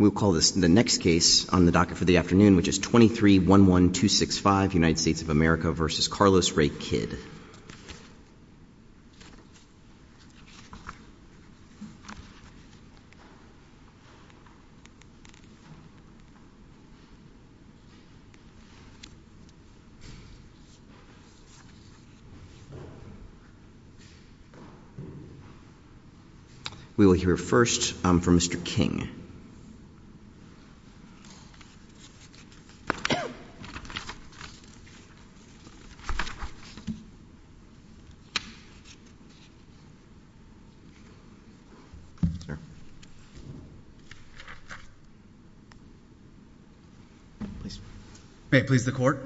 23-11265 United States of America v. Carlos Ray Kidd We will hear first from Mr. King. May it please the court.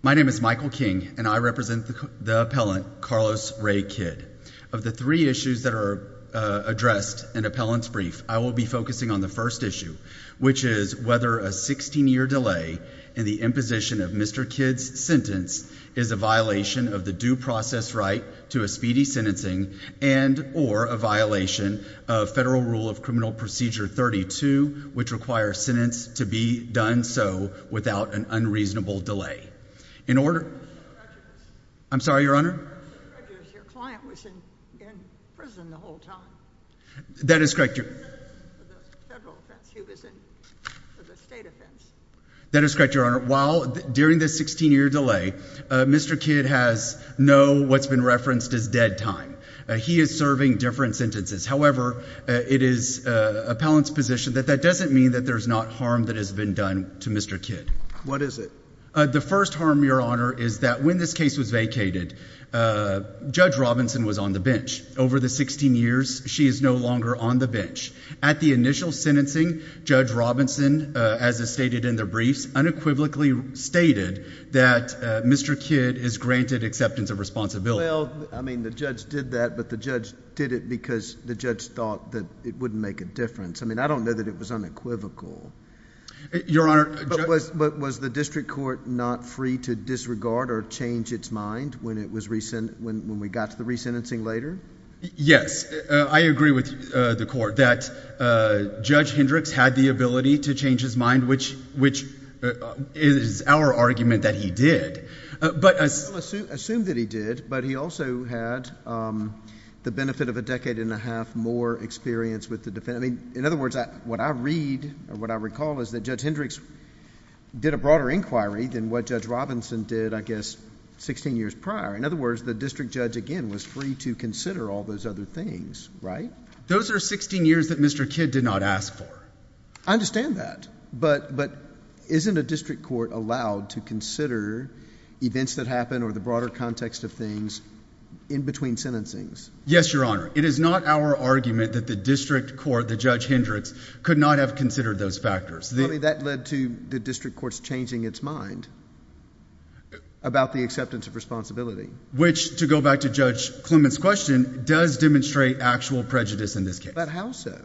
My name is Michael King and I represent the appellant, Carlos Ray Kidd. Of the three issues that are addressed in appellant's brief, I will be focusing on the first issue, which is whether a 16-year delay in the imposition of Mr. Kidd's sentence is a violation of the due process right to a speedy sentencing and or a violation of Federal Rule of Criminal Procedure 32, which requires sentence to be done so without an unreasonable delay. In order... I'm sorry, Your Honor. Your client was in prison the whole time. That is correct. For the federal offense, he was in for the state offense. That is correct, Your Honor. However, while... During the 16-year delay, Mr. Kidd has no what's been referenced as dead time. He is serving different sentences. However, it is appellant's position that that doesn't mean that there's not harm that has been done to Mr. Kidd. What is it? The first harm, Your Honor, is that when this case was vacated, Judge Robinson was on the Over the 16 years, she is no longer on the bench. At the initial sentencing, Judge Robinson, as is stated in the briefs, unequivocally stated that Mr. Kidd is granted acceptance of responsibility. Well, I mean, the judge did that, but the judge did it because the judge thought that it wouldn't make a difference. I mean, I don't know that it was unequivocal. Your Honor... But was the district court not free to disregard or change its mind when we got to the resentencing later? Yes. I agree with the court that Judge Hendricks had the ability to change his mind, which is our argument that he did. But... I assume that he did, but he also had the benefit of a decade and a half more experience with the defendant. I mean, in other words, what I read or what I recall is that Judge Hendricks did a broader inquiry than what Judge Robinson did, I guess, sixteen years prior. In other words, the district judge, again, was free to consider all those other things, right? Those are sixteen years that Mr. Kidd did not ask for. I understand that, but isn't a district court allowed to consider events that happen or the broader context of things in between sentencings? Yes, Your Honor. It is not our argument that the district court, that Judge Hendricks, could not have considered those factors. I mean, that led to the district court's changing its mind about the acceptance of Which, to go back to Judge Clement's question, does demonstrate actual prejudice in this case. But how so?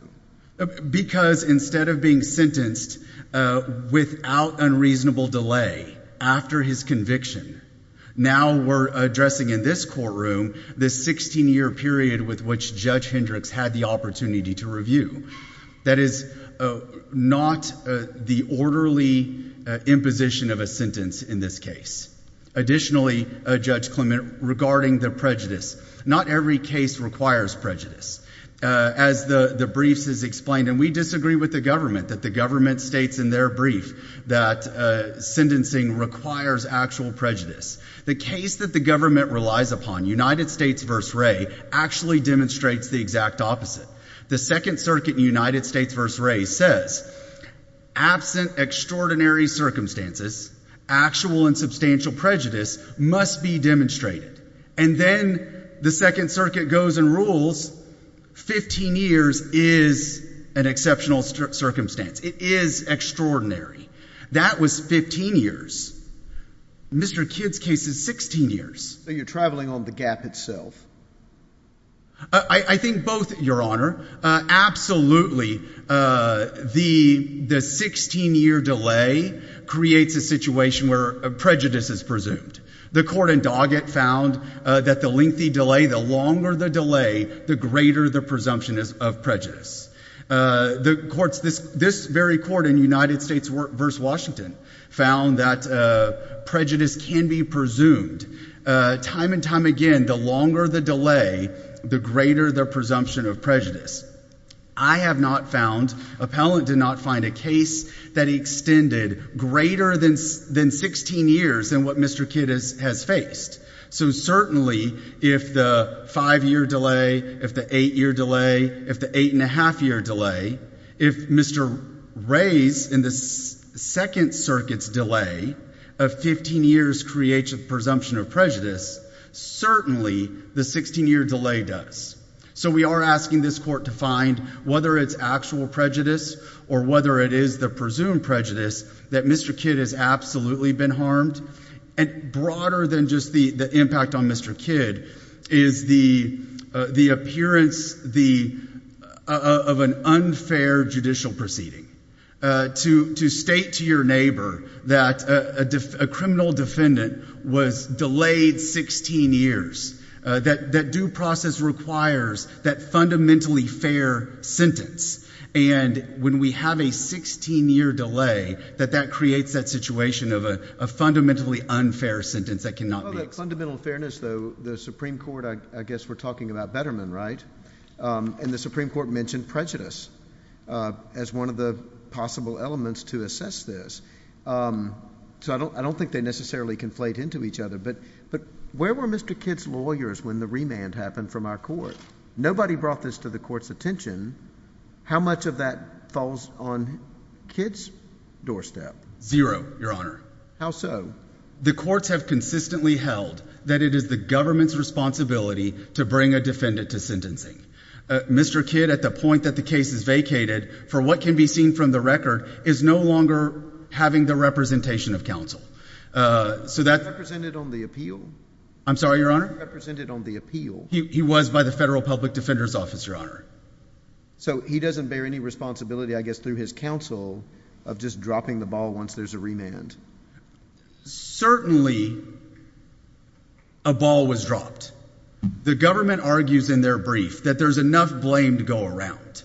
Because instead of being sentenced without unreasonable delay after his conviction, now we're addressing in this courtroom this sixteen-year period with which Judge Hendricks had the opportunity to review. That is not the orderly imposition of a sentence in this case. Additionally, Judge Clement, regarding the prejudice, not every case requires prejudice. As the briefs has explained, and we disagree with the government, that the government states in their brief that sentencing requires actual prejudice. The case that the government relies upon, United States v. Wray, actually demonstrates the exact opposite. The Second Circuit in United States v. Wray says, absent extraordinary circumstances, actual and substantial prejudice must be demonstrated. And then the Second Circuit goes and rules fifteen years is an exceptional circumstance. It is extraordinary. That was fifteen years. Mr. Kidd's case is sixteen years. So you're traveling on the gap itself? I think both, Your Honor. Absolutely, the sixteen-year delay creates a situation where prejudice is presumed. The court in Doggett found that the lengthy delay, the longer the delay, the greater the presumption of prejudice. This very court in United States v. Washington found that prejudice can be presumed. Time and time again, the longer the delay, the greater the presumption of prejudice. I have not found, Appellant did not find a case that extended greater than sixteen years than what Mr. Kidd has faced. So certainly, if the five-year delay, if the eight-year delay, if the eight-and-a-half-year delay, if Mr. Ray's in the Second Circuit's delay of fifteen years creates a presumption of prejudice, certainly the sixteen-year delay does. So we are asking this court to find whether it's actual prejudice or whether it is the presumed prejudice that Mr. Kidd has absolutely been harmed. And broader than just the impact on Mr. Kidd is the appearance of an unfair judicial proceeding. To state to your neighbor that a criminal defendant was delayed sixteen years, that due process requires that fundamentally fair sentence. And when we have a sixteen-year delay, that that creates that situation of a fundamentally unfair sentence that cannot be accepted. Well, that fundamental fairness, though, the Supreme Court, I guess we're talking about Betterman, right, and the Supreme Court mentioned prejudice as one of the possible elements to assess this. So I don't think they necessarily conflate into each other. But where were Mr. Kidd's lawyers when the remand happened from our court? Nobody brought this to the court's attention. How much of that falls on Kidd's doorstep? Zero, Your Honor. How so? The courts have consistently held that it is the government's responsibility to bring a defendant to sentencing. Mr. Kidd, at the point that the case is vacated, for what can be seen from the record, is no longer having the representation of counsel. So that's... Represented on the appeal? I'm sorry, Your Honor? Represented on the appeal? He was by the Federal Public Defender's Office, Your Honor. So he doesn't bear any responsibility, I guess, through his counsel, of just dropping the ball once there's a remand? Certainly a ball was dropped. The government argues in their brief that there's enough blame to go around.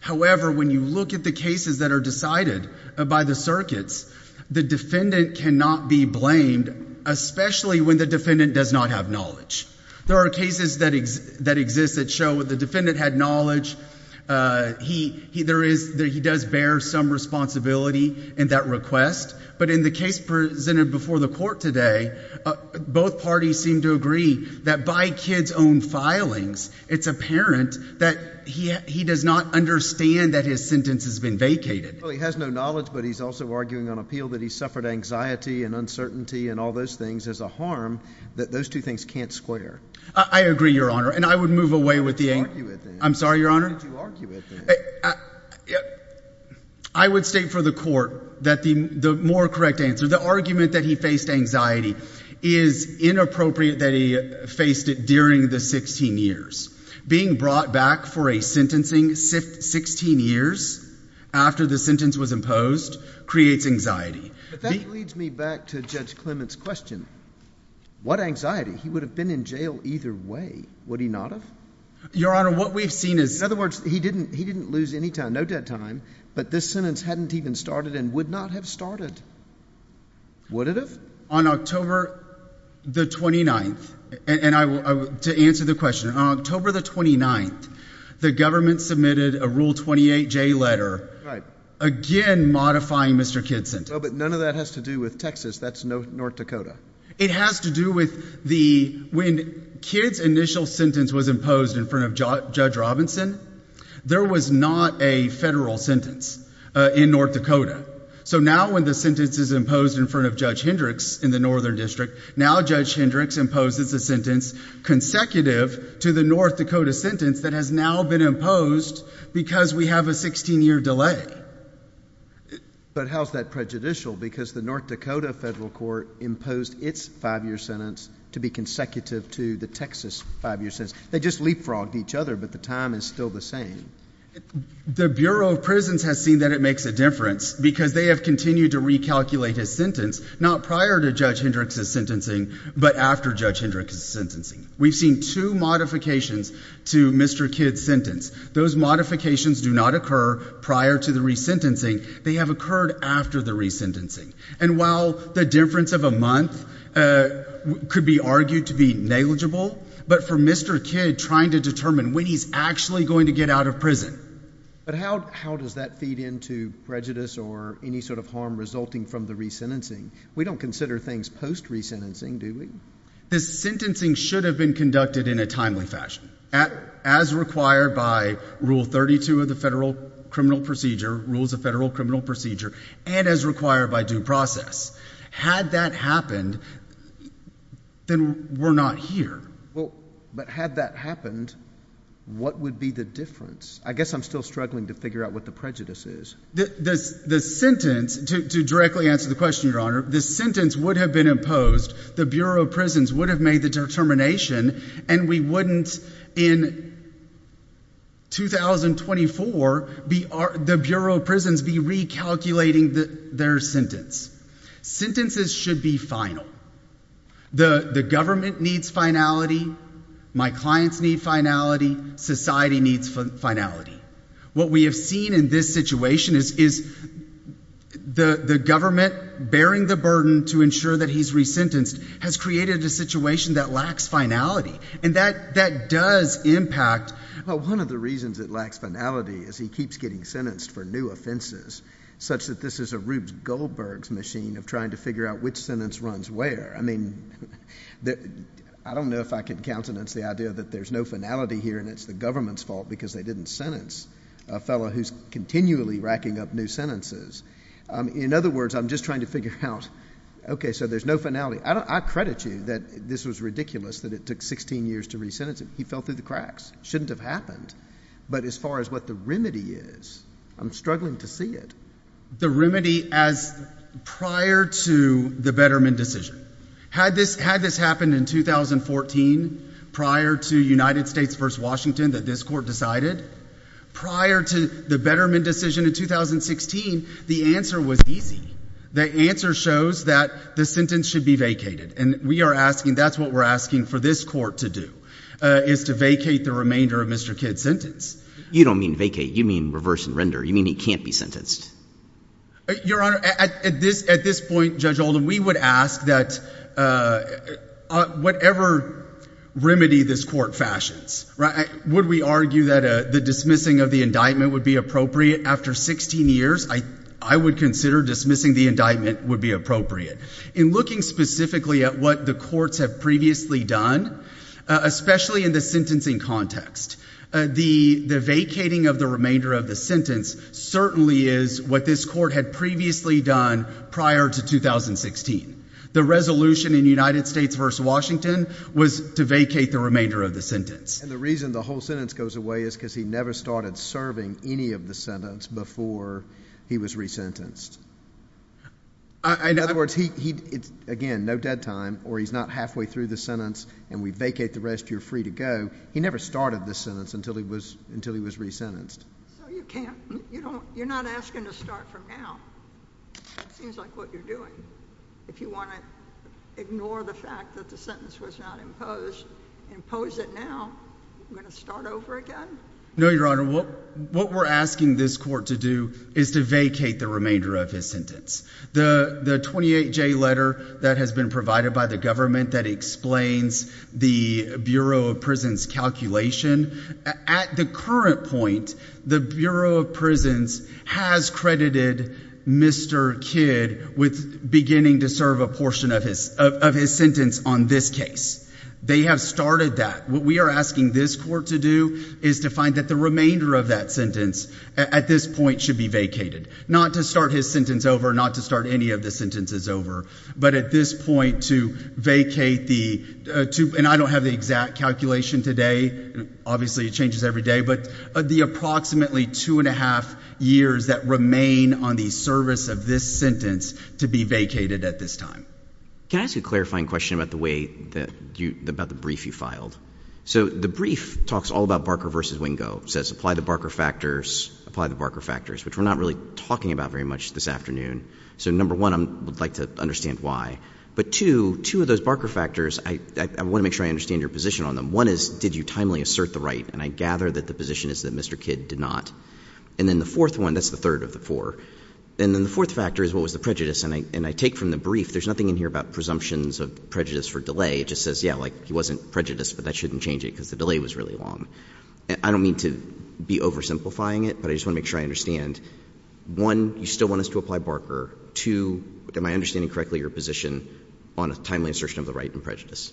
However, when you look at the cases that are decided by the circuits, the defendant cannot be blamed, especially when the defendant does not have knowledge. There are cases that exist that show that the defendant had knowledge. He does bear some responsibility in that request. But in the case presented before the court today, both parties seem to agree that by Kidd's own filings, it's apparent that he does not understand that his sentence has been vacated. Well, he has no knowledge, but he's also arguing on appeal that he suffered anxiety and uncertainty and all those things as a harm, that those two things can't square. I agree, Your Honor. And I would move away with the argument. I'm sorry, Your Honor? I would state for the court that the more correct answer, the argument that he faced anxiety is inappropriate that he faced it during the 16 years. Being brought back for a sentencing 16 years after the sentence was imposed creates anxiety. But that leads me back to Judge Clement's question. What anxiety? He would have been in jail either way. Would he not have? Your Honor, what we've seen is... In other words, he didn't lose any time, no dead time, but this sentence hadn't even started and would not have started. Would it have? On October the 29th, and to answer the question, on October the 29th, the government submitted a Rule 28J letter again modifying Mr. Kidd's sentence. But none of that has to do with Texas, that's North Dakota. It has to do with the, when Kidd's initial sentence was imposed in front of Judge Robinson, there was not a federal sentence in North Dakota. So now when the sentence is imposed in front of Judge Hendricks in the Northern District, now Judge Hendricks imposes a sentence consecutive to the North Dakota sentence that has now been imposed because we have a 16 year delay. But how's that prejudicial? Because the North Dakota federal court imposed its five year sentence to be consecutive to the Texas five year sentence. They just leapfrogged each other, but the time is still the same. The Bureau of Prisons has seen that it makes a difference because they have continued to recalculate his sentence, not prior to Judge Hendricks' sentencing, but after Judge Hendricks' We've seen two modifications to Mr. Kidd's sentence. Those modifications do not occur prior to the re-sentencing. They have occurred after the re-sentencing. And while the difference of a month could be argued to be negligible, but for Mr. Kidd trying to determine when he's actually going to get out of prison. But how does that feed into prejudice or any sort of harm resulting from the re-sentencing? We don't consider things post-re-sentencing, do we? This sentencing should have been conducted in a timely fashion, as required by Rule 32 of the Federal Criminal Procedure, Rules of Federal Criminal Procedure, and as required by due process. Had that happened, then we're not here. But had that happened, what would be the difference? I guess I'm still struggling to figure out what the prejudice is. The sentence, to directly answer the question, Your Honor, the sentence would have been imposed the Bureau of Prisons would have made the determination and we wouldn't, in 2024, the Bureau of Prisons be recalculating their sentence. Sentences should be final. The government needs finality. My clients need finality. Society needs finality. What we have seen in this situation is the government bearing the burden to ensure that the person who's re-sentenced has created a situation that lacks finality. And that does impact. One of the reasons it lacks finality is he keeps getting sentenced for new offenses, such that this is a Rube Goldberg's machine of trying to figure out which sentence runs where. I mean, I don't know if I can countenance the idea that there's no finality here and it's the government's fault because they didn't sentence a fellow who's continually racking up new sentences. In other words, I'm just trying to figure out, okay, so there's no finality. I credit you that this was ridiculous that it took 16 years to re-sentence him. He fell through the cracks. Shouldn't have happened. But as far as what the remedy is, I'm struggling to see it. The remedy as prior to the Betterman decision. Had this happened in 2014, prior to United States v. Washington, that this court decided? Prior to the Betterman decision in 2016, the answer was easy. The answer shows that the sentence should be vacated. And we are asking, that's what we're asking for this court to do, is to vacate the remainder of Mr. Kidd's sentence. You don't mean vacate. You mean reverse and render. You mean he can't be sentenced. Your Honor, at this point, Judge Oldham, we would ask that whatever remedy this court fashions, would we argue that the dismissing of the indictment would be appropriate after 16 years? I would consider dismissing the indictment would be appropriate. In looking specifically at what the courts have previously done, especially in the sentencing context, the vacating of the remainder of the sentence certainly is what this court had previously done prior to 2016. The resolution in United States v. Washington was to vacate the remainder of the sentence. And the reason the whole sentence goes away is because he never started serving any of the sentence before he was resentenced. In other words, again, no dead time, or he's not halfway through the sentence, and we vacate the rest, you're free to go. He never started this sentence until he was resentenced. So you can't, you're not asking to start from now. That seems like what you're doing. If you want to ignore the fact that the sentence was not imposed, impose it now, you're going to start over again? No, Your Honor. What we're asking this court to do is to vacate the remainder of his sentence. The 28-J letter that has been provided by the government that explains the Bureau of Prisons calculation, at the current point, the Bureau of Prisons has credited Mr. Kidd with beginning to serve a portion of his sentence on this case. They have started that. What we are asking this court to do is to find that the remainder of that sentence at this point should be vacated. Not to start his sentence over, not to start any of the sentences over, but at this point to vacate the two, and I don't have the exact calculation today, obviously it changes every day, but the approximately two and a half years that remain on the service of this sentence to be vacated at this time. Can I ask you a clarifying question about the way that you, about the brief you filed? So the brief talks all about Barker v. Wingo, says apply the Barker factors, apply the Barker factors, which we're not really talking about very much this afternoon. So number one, I would like to understand why. But two, two of those Barker factors, I want to make sure I understand your position on them. One is, did you timely assert the right? And I gather that the position is that Mr. Kidd did not. And then the fourth one, that's the third of the four. And then the fourth factor is, what was the prejudice? And I take from the brief, there's nothing in here about presumptions of prejudice for delay. It just says, yeah, like he wasn't prejudiced, but that shouldn't change it because the delay was really long. I don't mean to be oversimplifying it, but I just want to make sure I understand. One, you still want us to apply Barker. Two, am I understanding correctly your position on a timely assertion of the right and prejudice?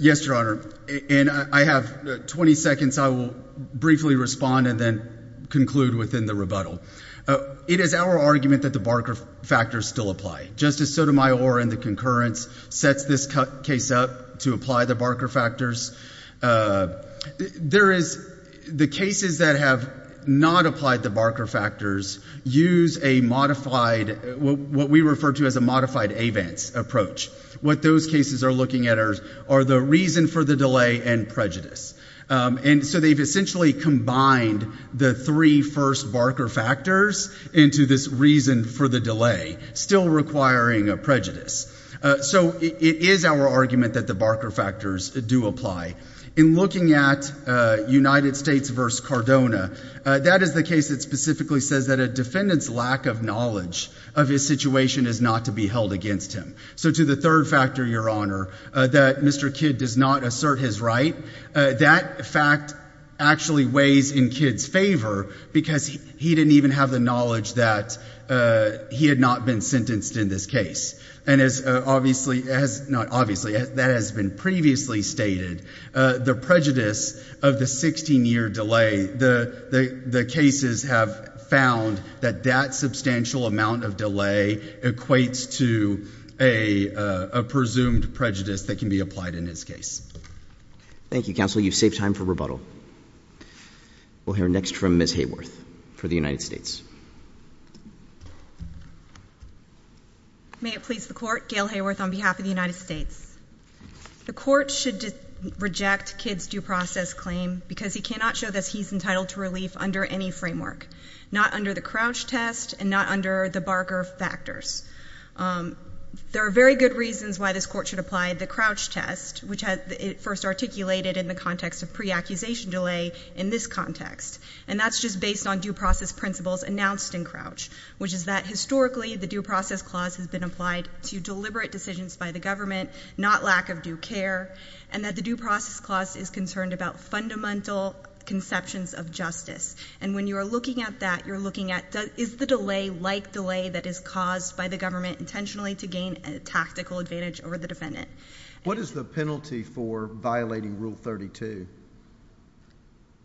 Yes, Your Honor, and I have 20 seconds. I will briefly respond and then conclude within the rebuttal. It is our argument that the Barker factors still apply. Justice Sotomayor and the concurrence sets this case up to apply the Barker factors. There is, the cases that have not applied the Barker factors use a modified, what we refer to as a modified events approach. What those cases are looking at are the reason for the delay and prejudice. And so they've essentially combined the three first Barker factors into this reason for the delay, still requiring a prejudice. So it is our argument that the Barker factors do apply. In looking at United States versus Cardona, that is the case that specifically says that a defendant's lack of knowledge of his situation is not to be held against him. So to the third factor, Your Honor, that Mr. Kidd does not assert his right, that fact actually weighs in Kidd's favor because he didn't even have the knowledge that he had not been sentenced in this case. And as obviously, not obviously, that has been previously stated, the prejudice of the 16 year delay, the cases have found that that substantial amount of delay equates to a presumed prejudice that can be applied in this case. Thank you, counsel. You've saved time for rebuttal. We'll hear next from Ms. Hayworth for the United States. May it please the court, Gail Hayworth on behalf of the United States. The court should reject Kidd's due process claim because he cannot show that he's entitled to relief under any framework. Not under the Crouch test and not under the Barker factors. There are very good reasons why this court should apply the Crouch test, which it first articulated in the context of pre-accusation delay in this context. And that's just based on due process principles announced in Crouch. Which is that historically, the due process clause has been applied to deliberate decisions by the government, not lack of due care. And that the due process clause is concerned about fundamental conceptions of justice. And when you are looking at that, you're looking at, is the delay like delay that is caused by the government intentionally to gain a tactical advantage over the defendant? What is the penalty for violating rule 32?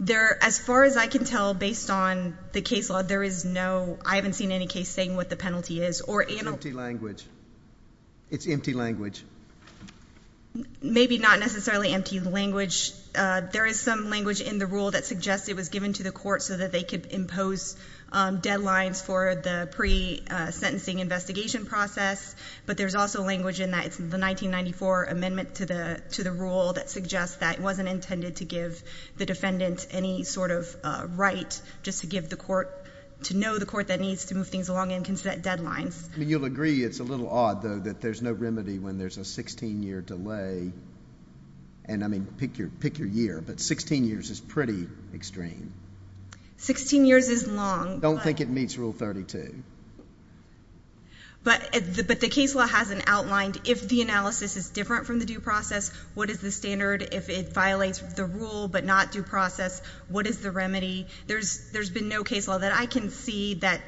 There, as far as I can tell, based on the case law, there is no, I haven't seen any case saying what the penalty is. Or- It's empty language. It's empty language. Maybe not necessarily empty language. There is some language in the rule that suggests it was given to the court so that they could impose deadlines for the pre-sentencing investigation process. But there's also language in that it's the 1994 amendment to the rule that suggests that it wasn't intended to give the defendant any sort of right. Just to give the court, to know the court that needs to move things along and can set deadlines. I mean, you'll agree it's a little odd, though, that there's no remedy when there's a 16 year delay. And I mean, pick your year, but 16 years is pretty extreme. 16 years is long. Don't think it meets rule 32. But the case law has an outlined, if the analysis is different from the due process, what is the standard? If it violates the rule but not due process, what is the remedy? There's been no case law that I can see that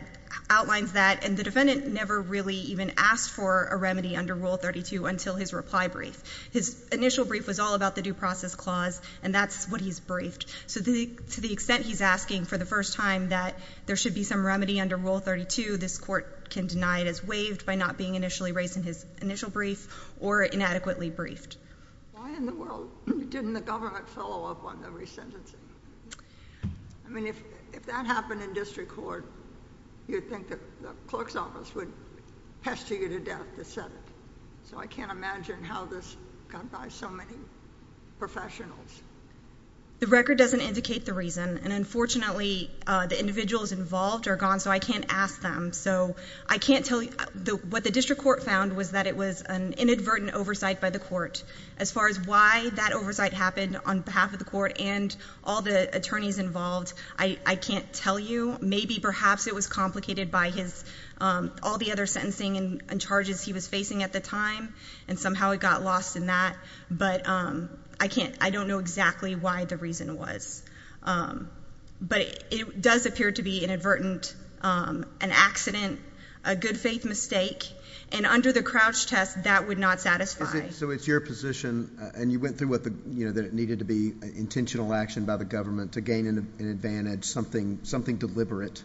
outlines that. And the defendant never really even asked for a remedy under rule 32 until his reply brief. His initial brief was all about the due process clause, and that's what he's briefed. So to the extent he's asking for the first time that there should be some remedy under rule 32, this court can deny it as waived by not being initially raised in his initial brief or inadequately briefed. Why in the world didn't the government follow up on the resentencing? I mean, if that happened in district court, you'd think that the clerk's office would pester you to death to set it. So I can't imagine how this got by so many professionals. The record doesn't indicate the reason, and unfortunately, the individuals involved are gone, so I can't ask them. So I can't tell you, what the district court found was that it was an inadvertent oversight by the court. As far as why that oversight happened on behalf of the court and all the attorneys involved, I can't tell you. Maybe perhaps it was complicated by all the other sentencing and charges he was facing at the time, and somehow it got lost in that. But I don't know exactly why the reason was. But it does appear to be inadvertent, an accident, a good faith mistake, and under the Crouch test, that would not satisfy. So it's your position, and you went through that it needed to be an intentional action by the government to gain an advantage, something deliberate.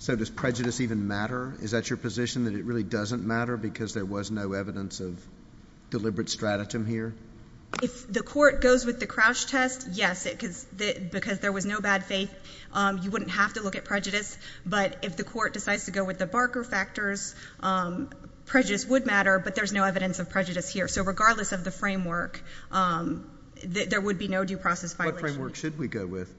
So does prejudice even matter? Is that your position, that it really doesn't matter because there was no evidence of deliberate stratagem here? If the court goes with the Crouch test, yes, because there was no bad faith, you wouldn't have to look at prejudice. But if the court decides to go with the Barker factors, prejudice would matter, but there's no evidence of prejudice here. So regardless of the framework, there would be no due process violation. What framework should we go with?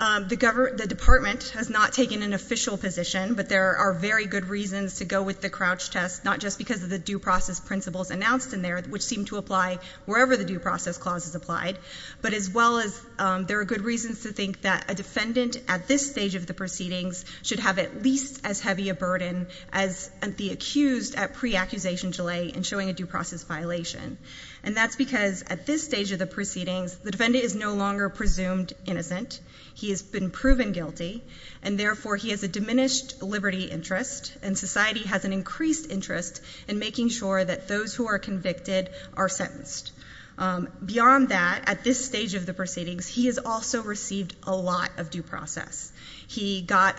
The department has not taken an official position, but there are very good reasons to go with the Crouch test. Not just because of the due process principles announced in there, which seem to apply wherever the due process clause is applied. But as well as there are good reasons to think that a defendant at this stage of the proceedings should have at least as heavy a burden as the accused at pre-accusation delay in showing a due process violation. And that's because at this stage of the proceedings, the defendant is no longer presumed innocent. He has been proven guilty, and therefore he has a diminished liberty interest. And society has an increased interest in making sure that those who are convicted are sentenced. Beyond that, at this stage of the proceedings, he has also received a lot of due process. He got,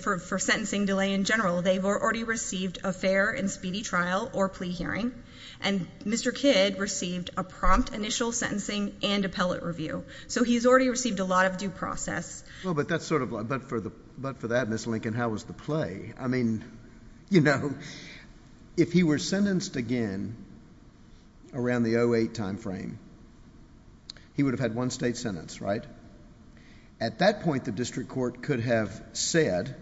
for sentencing delay in general, they've already received a fair and speedy trial or plea hearing. And Mr. Kidd received a prompt initial sentencing and appellate review. So he's already received a lot of due process. Well, but that's sort of, but for that, Ms. Lincoln, how was the play? I mean, if he were sentenced again around the 08 timeframe, he would have had one state sentence, right? At that point, the district court could have said,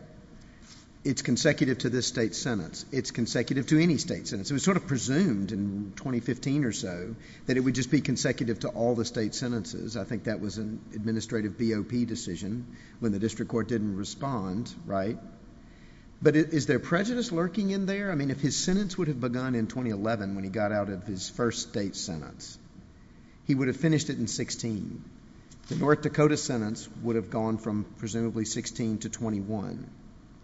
it's consecutive to this state sentence. It's consecutive to any state sentence. It was sort of presumed in 2015 or so that it would just be consecutive to all the state sentences. I think that was an administrative BOP decision when the district court didn't respond, right? But is there prejudice lurking in there? I mean, if his sentence would have begun in 2011 when he got out of his first state sentence, he would have finished it in 16. The North Dakota sentence would have gone from presumably 16 to 21.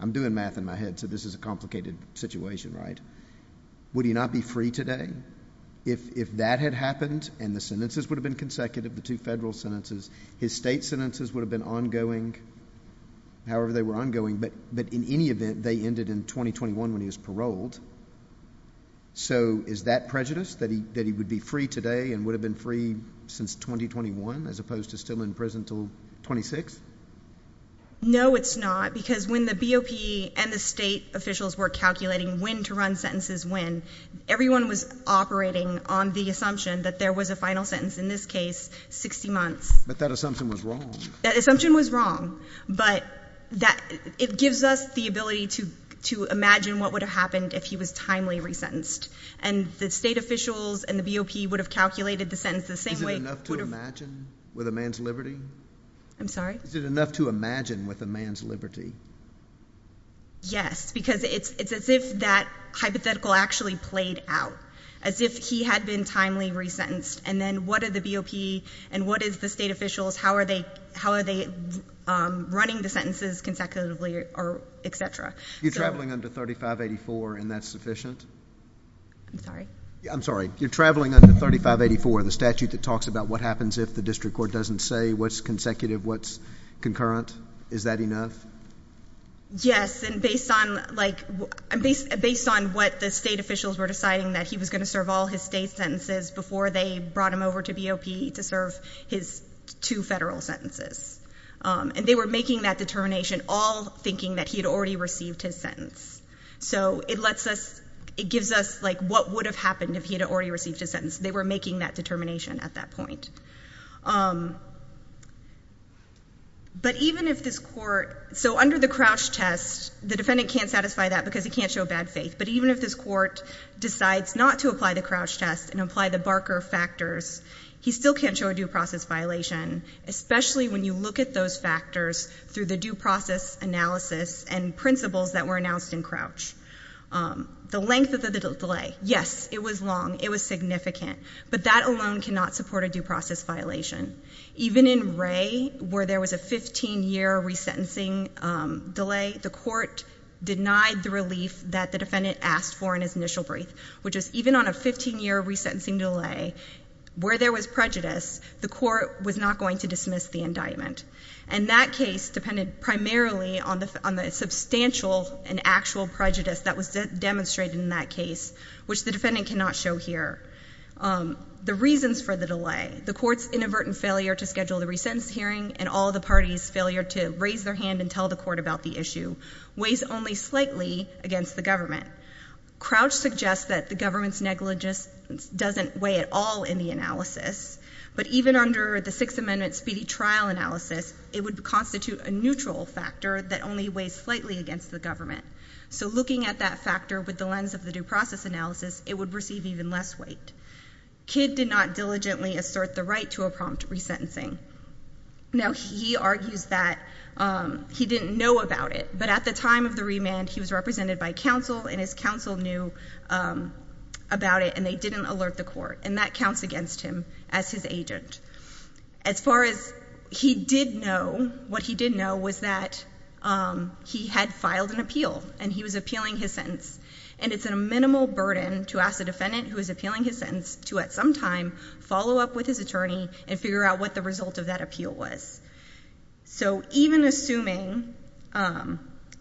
I'm doing math in my head, so this is a complicated situation, right? Would he not be free today? If that had happened and the sentences would have been consecutive, the two federal sentences, his state sentences would have been ongoing, however they were ongoing. But in any event, they ended in 2021 when he was paroled. So is that prejudice, that he would be free today and would have been free since 2021 as opposed to still in prison until 26? No, it's not, because when the BOP and the state officials were calculating when to run sentences when, everyone was operating on the assumption that there was a final sentence, in this case, 60 months. But that assumption was wrong. That assumption was wrong. But it gives us the ability to imagine what would have happened if he was timely resentenced. And the state officials and the BOP would have calculated the sentence the same way. Is it enough to imagine with a man's liberty? I'm sorry? Is it enough to imagine with a man's liberty? Yes, because it's as if that hypothetical actually played out, as if he had been timely resentenced. And then what are the BOP and what is the state officials? How are they running the sentences consecutively, et cetera? You're traveling under 3584, and that's sufficient? I'm sorry? I'm sorry. You're traveling under 3584, the statute that talks about what happens if the district court doesn't say what's consecutive, what's concurrent. Is that enough? Yes, and based on what the state officials were deciding, that he was going to serve all his state sentences before they brought him over to BOP to serve his two federal sentences. And they were making that determination, all thinking that he had already received his sentence. So it gives us what would have happened if he had already received his sentence. They were making that determination at that point. But even if this court... So under the Crouch test, the defendant can't satisfy that because he can't show bad faith. But even if this court decides not to apply the Crouch test and apply the Barker factors, he still can't show a due process violation, especially when you look at those factors through the due process analysis and principles that were announced in Crouch. The length of the delay. Yes, it was long. It was significant. But that alone cannot support a due process violation. Even in Wray, where there was a 15-year resentencing delay, the court denied the relief that the defendant asked for in his initial brief, which is even on a 15-year resentencing delay, where there was prejudice, the court was not going to dismiss the indictment. And that case depended primarily on the substantial and actual prejudice that was demonstrated in that case, which the defendant cannot show here. The reasons for the delay. The court's inadvertent failure to schedule the resentence hearing and all the parties' failure to raise their hand and tell the court about the issue weighs only slightly against the government. Crouch suggests that the government's negligence doesn't weigh at all in the analysis. But even under the Sixth Amendment speedy trial analysis, it would constitute a neutral factor that only weighs slightly against the government. So looking at that factor with the lens of the due process analysis, it would receive even less weight. Kidd did not diligently assert the right to a prompt resentencing. Now, he argues that he didn't know about it. But at the time of the remand, he was represented by counsel, and his counsel knew about it, and they didn't alert the court. And that counts against him as his agent. As far as he did know, what he did know was that he had filed an appeal, and he was appealing his sentence. And it's a minimal burden to ask a defendant who is appealing his sentence to, at some time, follow up with his attorney and figure out what the result of that appeal was.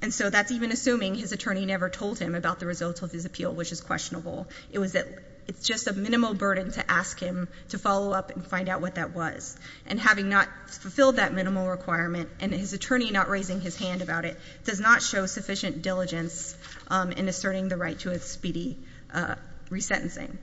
And so that's even assuming his attorney never told him about the results of his appeal, which is questionable. It's just a minimal burden to ask him to follow up and find out what that was. And having not fulfilled that minimal requirement, and his attorney not raising his hand about it, does not show sufficient diligence in asserting the right to a speedy resentencing.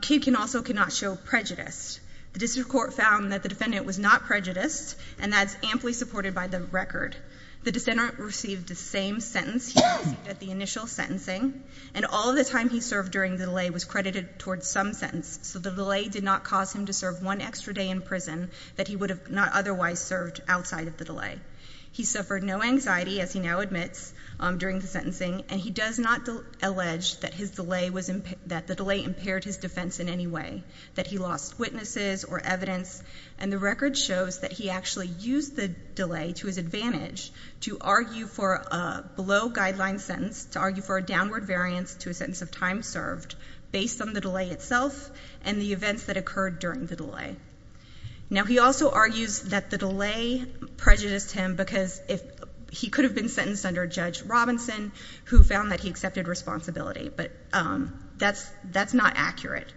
Cue can also cannot show prejudice. The district court found that the defendant was not prejudiced, and that's amply supported by the record. The defendant received the same sentence he received at the initial sentencing, and all the time he served during the delay was credited towards some sentence. So the delay did not cause him to serve one extra day in prison that he would have not otherwise served outside of the delay. He suffered no anxiety, as he now admits, during the sentencing, and he does not allege that the delay impaired his defense in any way, that he lost witnesses or evidence. And the record shows that he actually used the delay to his advantage to argue for a below-guideline sentence, to argue for a downward variance to a sentence of time served, based on the delay itself and the events that occurred during the delay. Now, he also argues that the delay prejudiced him because he could have been sentenced under Judge Robinson, who found that he accepted responsibility. But that's not accurate.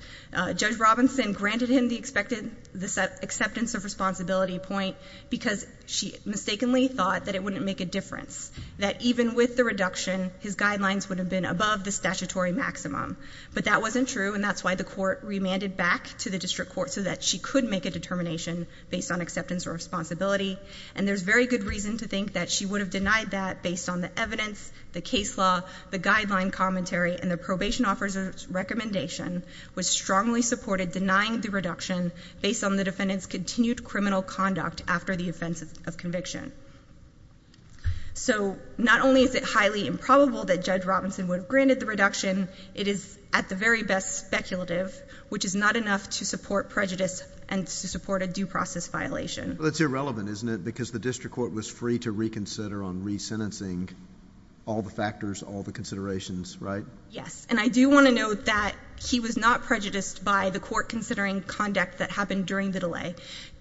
Judge Robinson granted him the acceptance of responsibility point because she mistakenly thought that it wouldn't make a difference, that even with the reduction, his guidelines would have been above the statutory maximum. But that wasn't true, and that's why the court remanded back to the district court so that she could make a determination based on acceptance or responsibility. And there's very good reason to think that she would have denied that based on the evidence, the case law, the guideline commentary, and the probation officer's recommendation, was strongly supported denying the reduction based on the defendant's continued criminal conduct after the offense of conviction. So not only is it highly improbable that Judge Robinson would have granted the reduction, it is, at the very best, speculative, which is not enough to support prejudice and to support a due process violation. Well, that's irrelevant, isn't it? Because the district court was free to reconsider on re-sentencing all the factors, all the considerations, right? Yes. And I do want to note that he was not prejudiced by the court considering conduct that happened during the delay.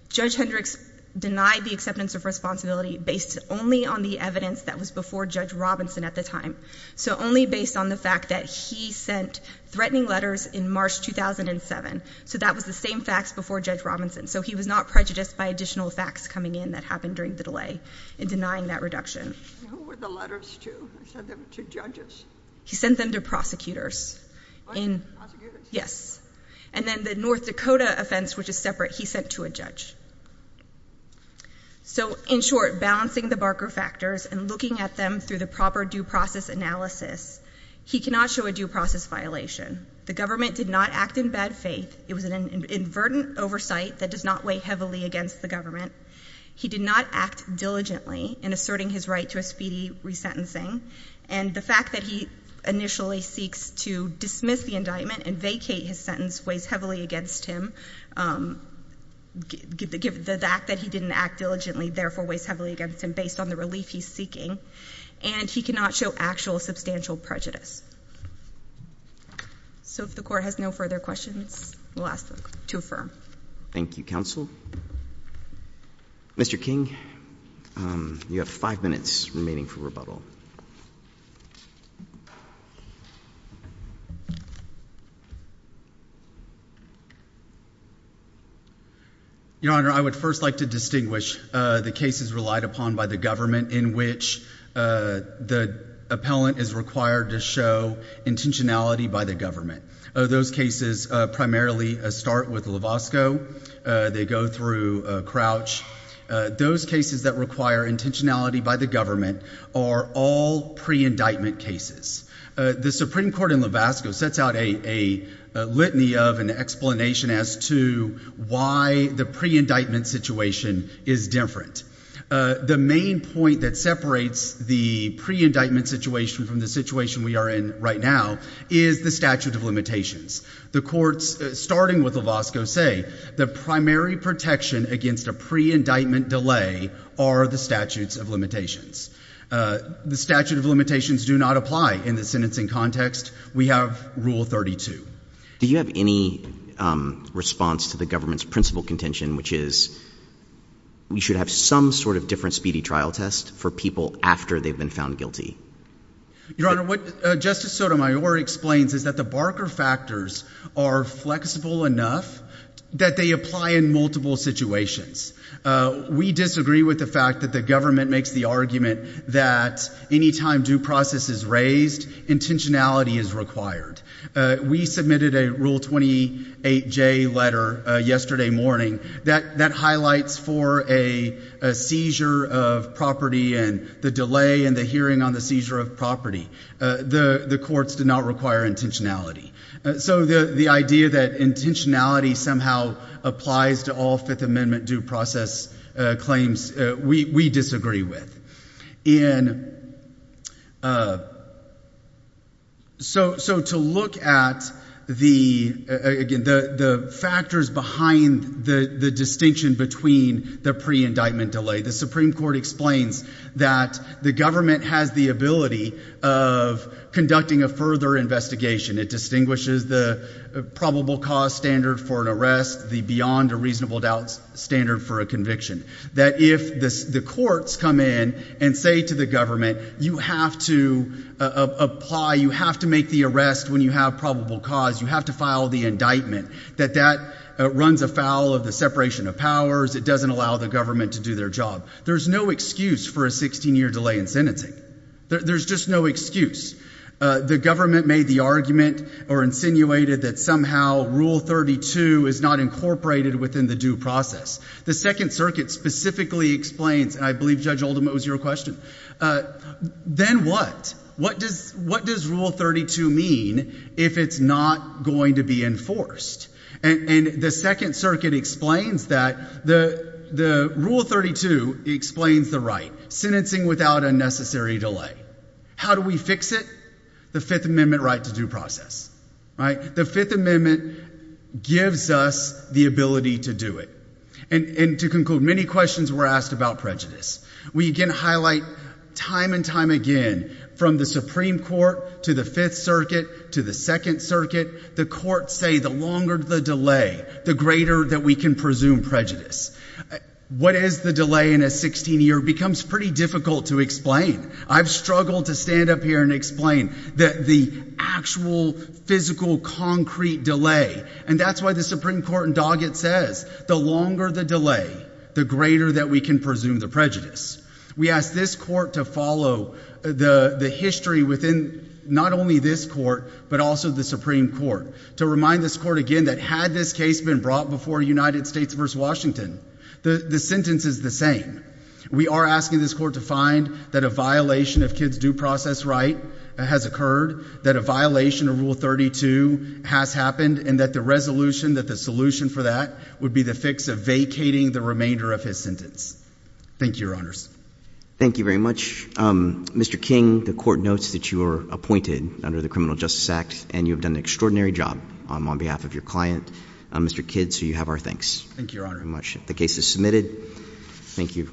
Judge Hendricks denied the acceptance of responsibility based only on the evidence that was before Judge Robinson at the time. So only based on the fact that he sent threatening letters in March 2007. So that was the same facts before Judge Robinson. So he was not prejudiced by additional facts coming in that happened during the delay in denying that reduction. Who were the letters to? He sent them to judges? He sent them to prosecutors. What? Prosecutors? Yes. And then the North Dakota offense, which is separate, he sent to a judge. So, in short, balancing the Barker factors and looking at them through the proper due process analysis, he cannot show a due process violation. The government did not act in bad faith. It was an inadvertent oversight that does not weigh heavily against the government. He did not act diligently in asserting his right to a speedy resentencing. And the fact that he initially seeks to dismiss the indictment and vacate his sentence weighs heavily against him. The fact that he didn't act diligently, therefore, weighs heavily against him based on the relief he's seeking. And he cannot show actual substantial prejudice. So if the court has no further questions. To affirm. Thank you, counsel. Mr. King, you have five minutes remaining for rebuttal. Your Honor, I would first like to distinguish the cases relied upon by the government in which the appellant is required to show intentionality by the government. Those cases primarily start with Lovasco. They go through Crouch. Those cases that require intentionality by the government are all pre-indictment cases. The Supreme Court in Lovasco sets out a litany of an explanation as to why the pre-indictment situation is different. The main point that separates the pre-indictment situation from the situation we are in right now is the statute of limitations. The courts starting with Lovasco say the primary protection against a pre-indictment delay are the statutes of limitations. The statute of limitations do not apply in the sentencing context. We have Rule 32. Do you have any response to the government's principal contention, which is we should have some sort of different speedy trial test for people after they've been found guilty? Your Honor, what Justice Sotomayor explains is that the Barker factors are flexible enough that they apply in multiple situations. We disagree with the fact that the government makes the argument that any time due process is raised, intentionality is required. We submitted a Rule 28J letter yesterday morning that highlights for a seizure of property and the delay in the hearing on the seizure of property, the courts did not require intentionality. The idea that intentionality somehow applies to all Fifth Amendment due process claims, we disagree with. To look at the factors behind the distinction between the pre-indictment delay, the Supreme Court explains that the government has the ability of conducting a further investigation. It distinguishes the probable cause standard for an arrest, the beyond a reasonable doubt standard for a conviction. That if the courts come in and say to the government, you have to apply, you have to make the arrest when you have probable cause, you have to file the indictment, that that runs afoul of the separation of powers. It doesn't allow the government to do their job. There's no excuse for a 16-year delay in sentencing. There's just no excuse. The government made the argument or insinuated that somehow Rule 32 is not incorporated within the due process. The Second Circuit specifically explains, and I believe Judge Oldham, it was your question, then what? What does Rule 32 mean if it's not going to be enforced? And the Second Circuit explains that. The Rule 32 explains the right, sentencing without a necessary delay. How do we fix it? The Fifth Amendment right to due process, right? The Fifth Amendment gives us the ability to do it. And to conclude, many questions were asked about prejudice. We again highlight time and time again, from the Supreme Court to the Fifth Circuit to the Second Circuit, the courts say the longer the delay, the greater that we can presume prejudice. What is the delay in a 16-year becomes pretty difficult to explain. I've struggled to stand up here and explain the actual, physical, concrete delay. And that's why the Supreme Court in Doggett says, the longer the delay, the greater that we can presume the prejudice. We ask this court to follow the history within not only this court, but also the Supreme Court. To remind this court again that had this case been brought before United States versus Washington, the sentence is the same. We are asking this court to find that a violation of kids due process right has occurred, that a violation of Rule 32 has happened, and that the resolution, that the solution for that would be the fix of vacating the remainder of his sentence. Thank you, Your Honors. Thank you very much. Mr. King, the court notes that you are appointed under the Criminal Justice Act, and you have done an extraordinary job on behalf of your client, Mr. Kidd. So you have our thanks. Thank you, Your Honor. Very much. The case is submitted. Thank you.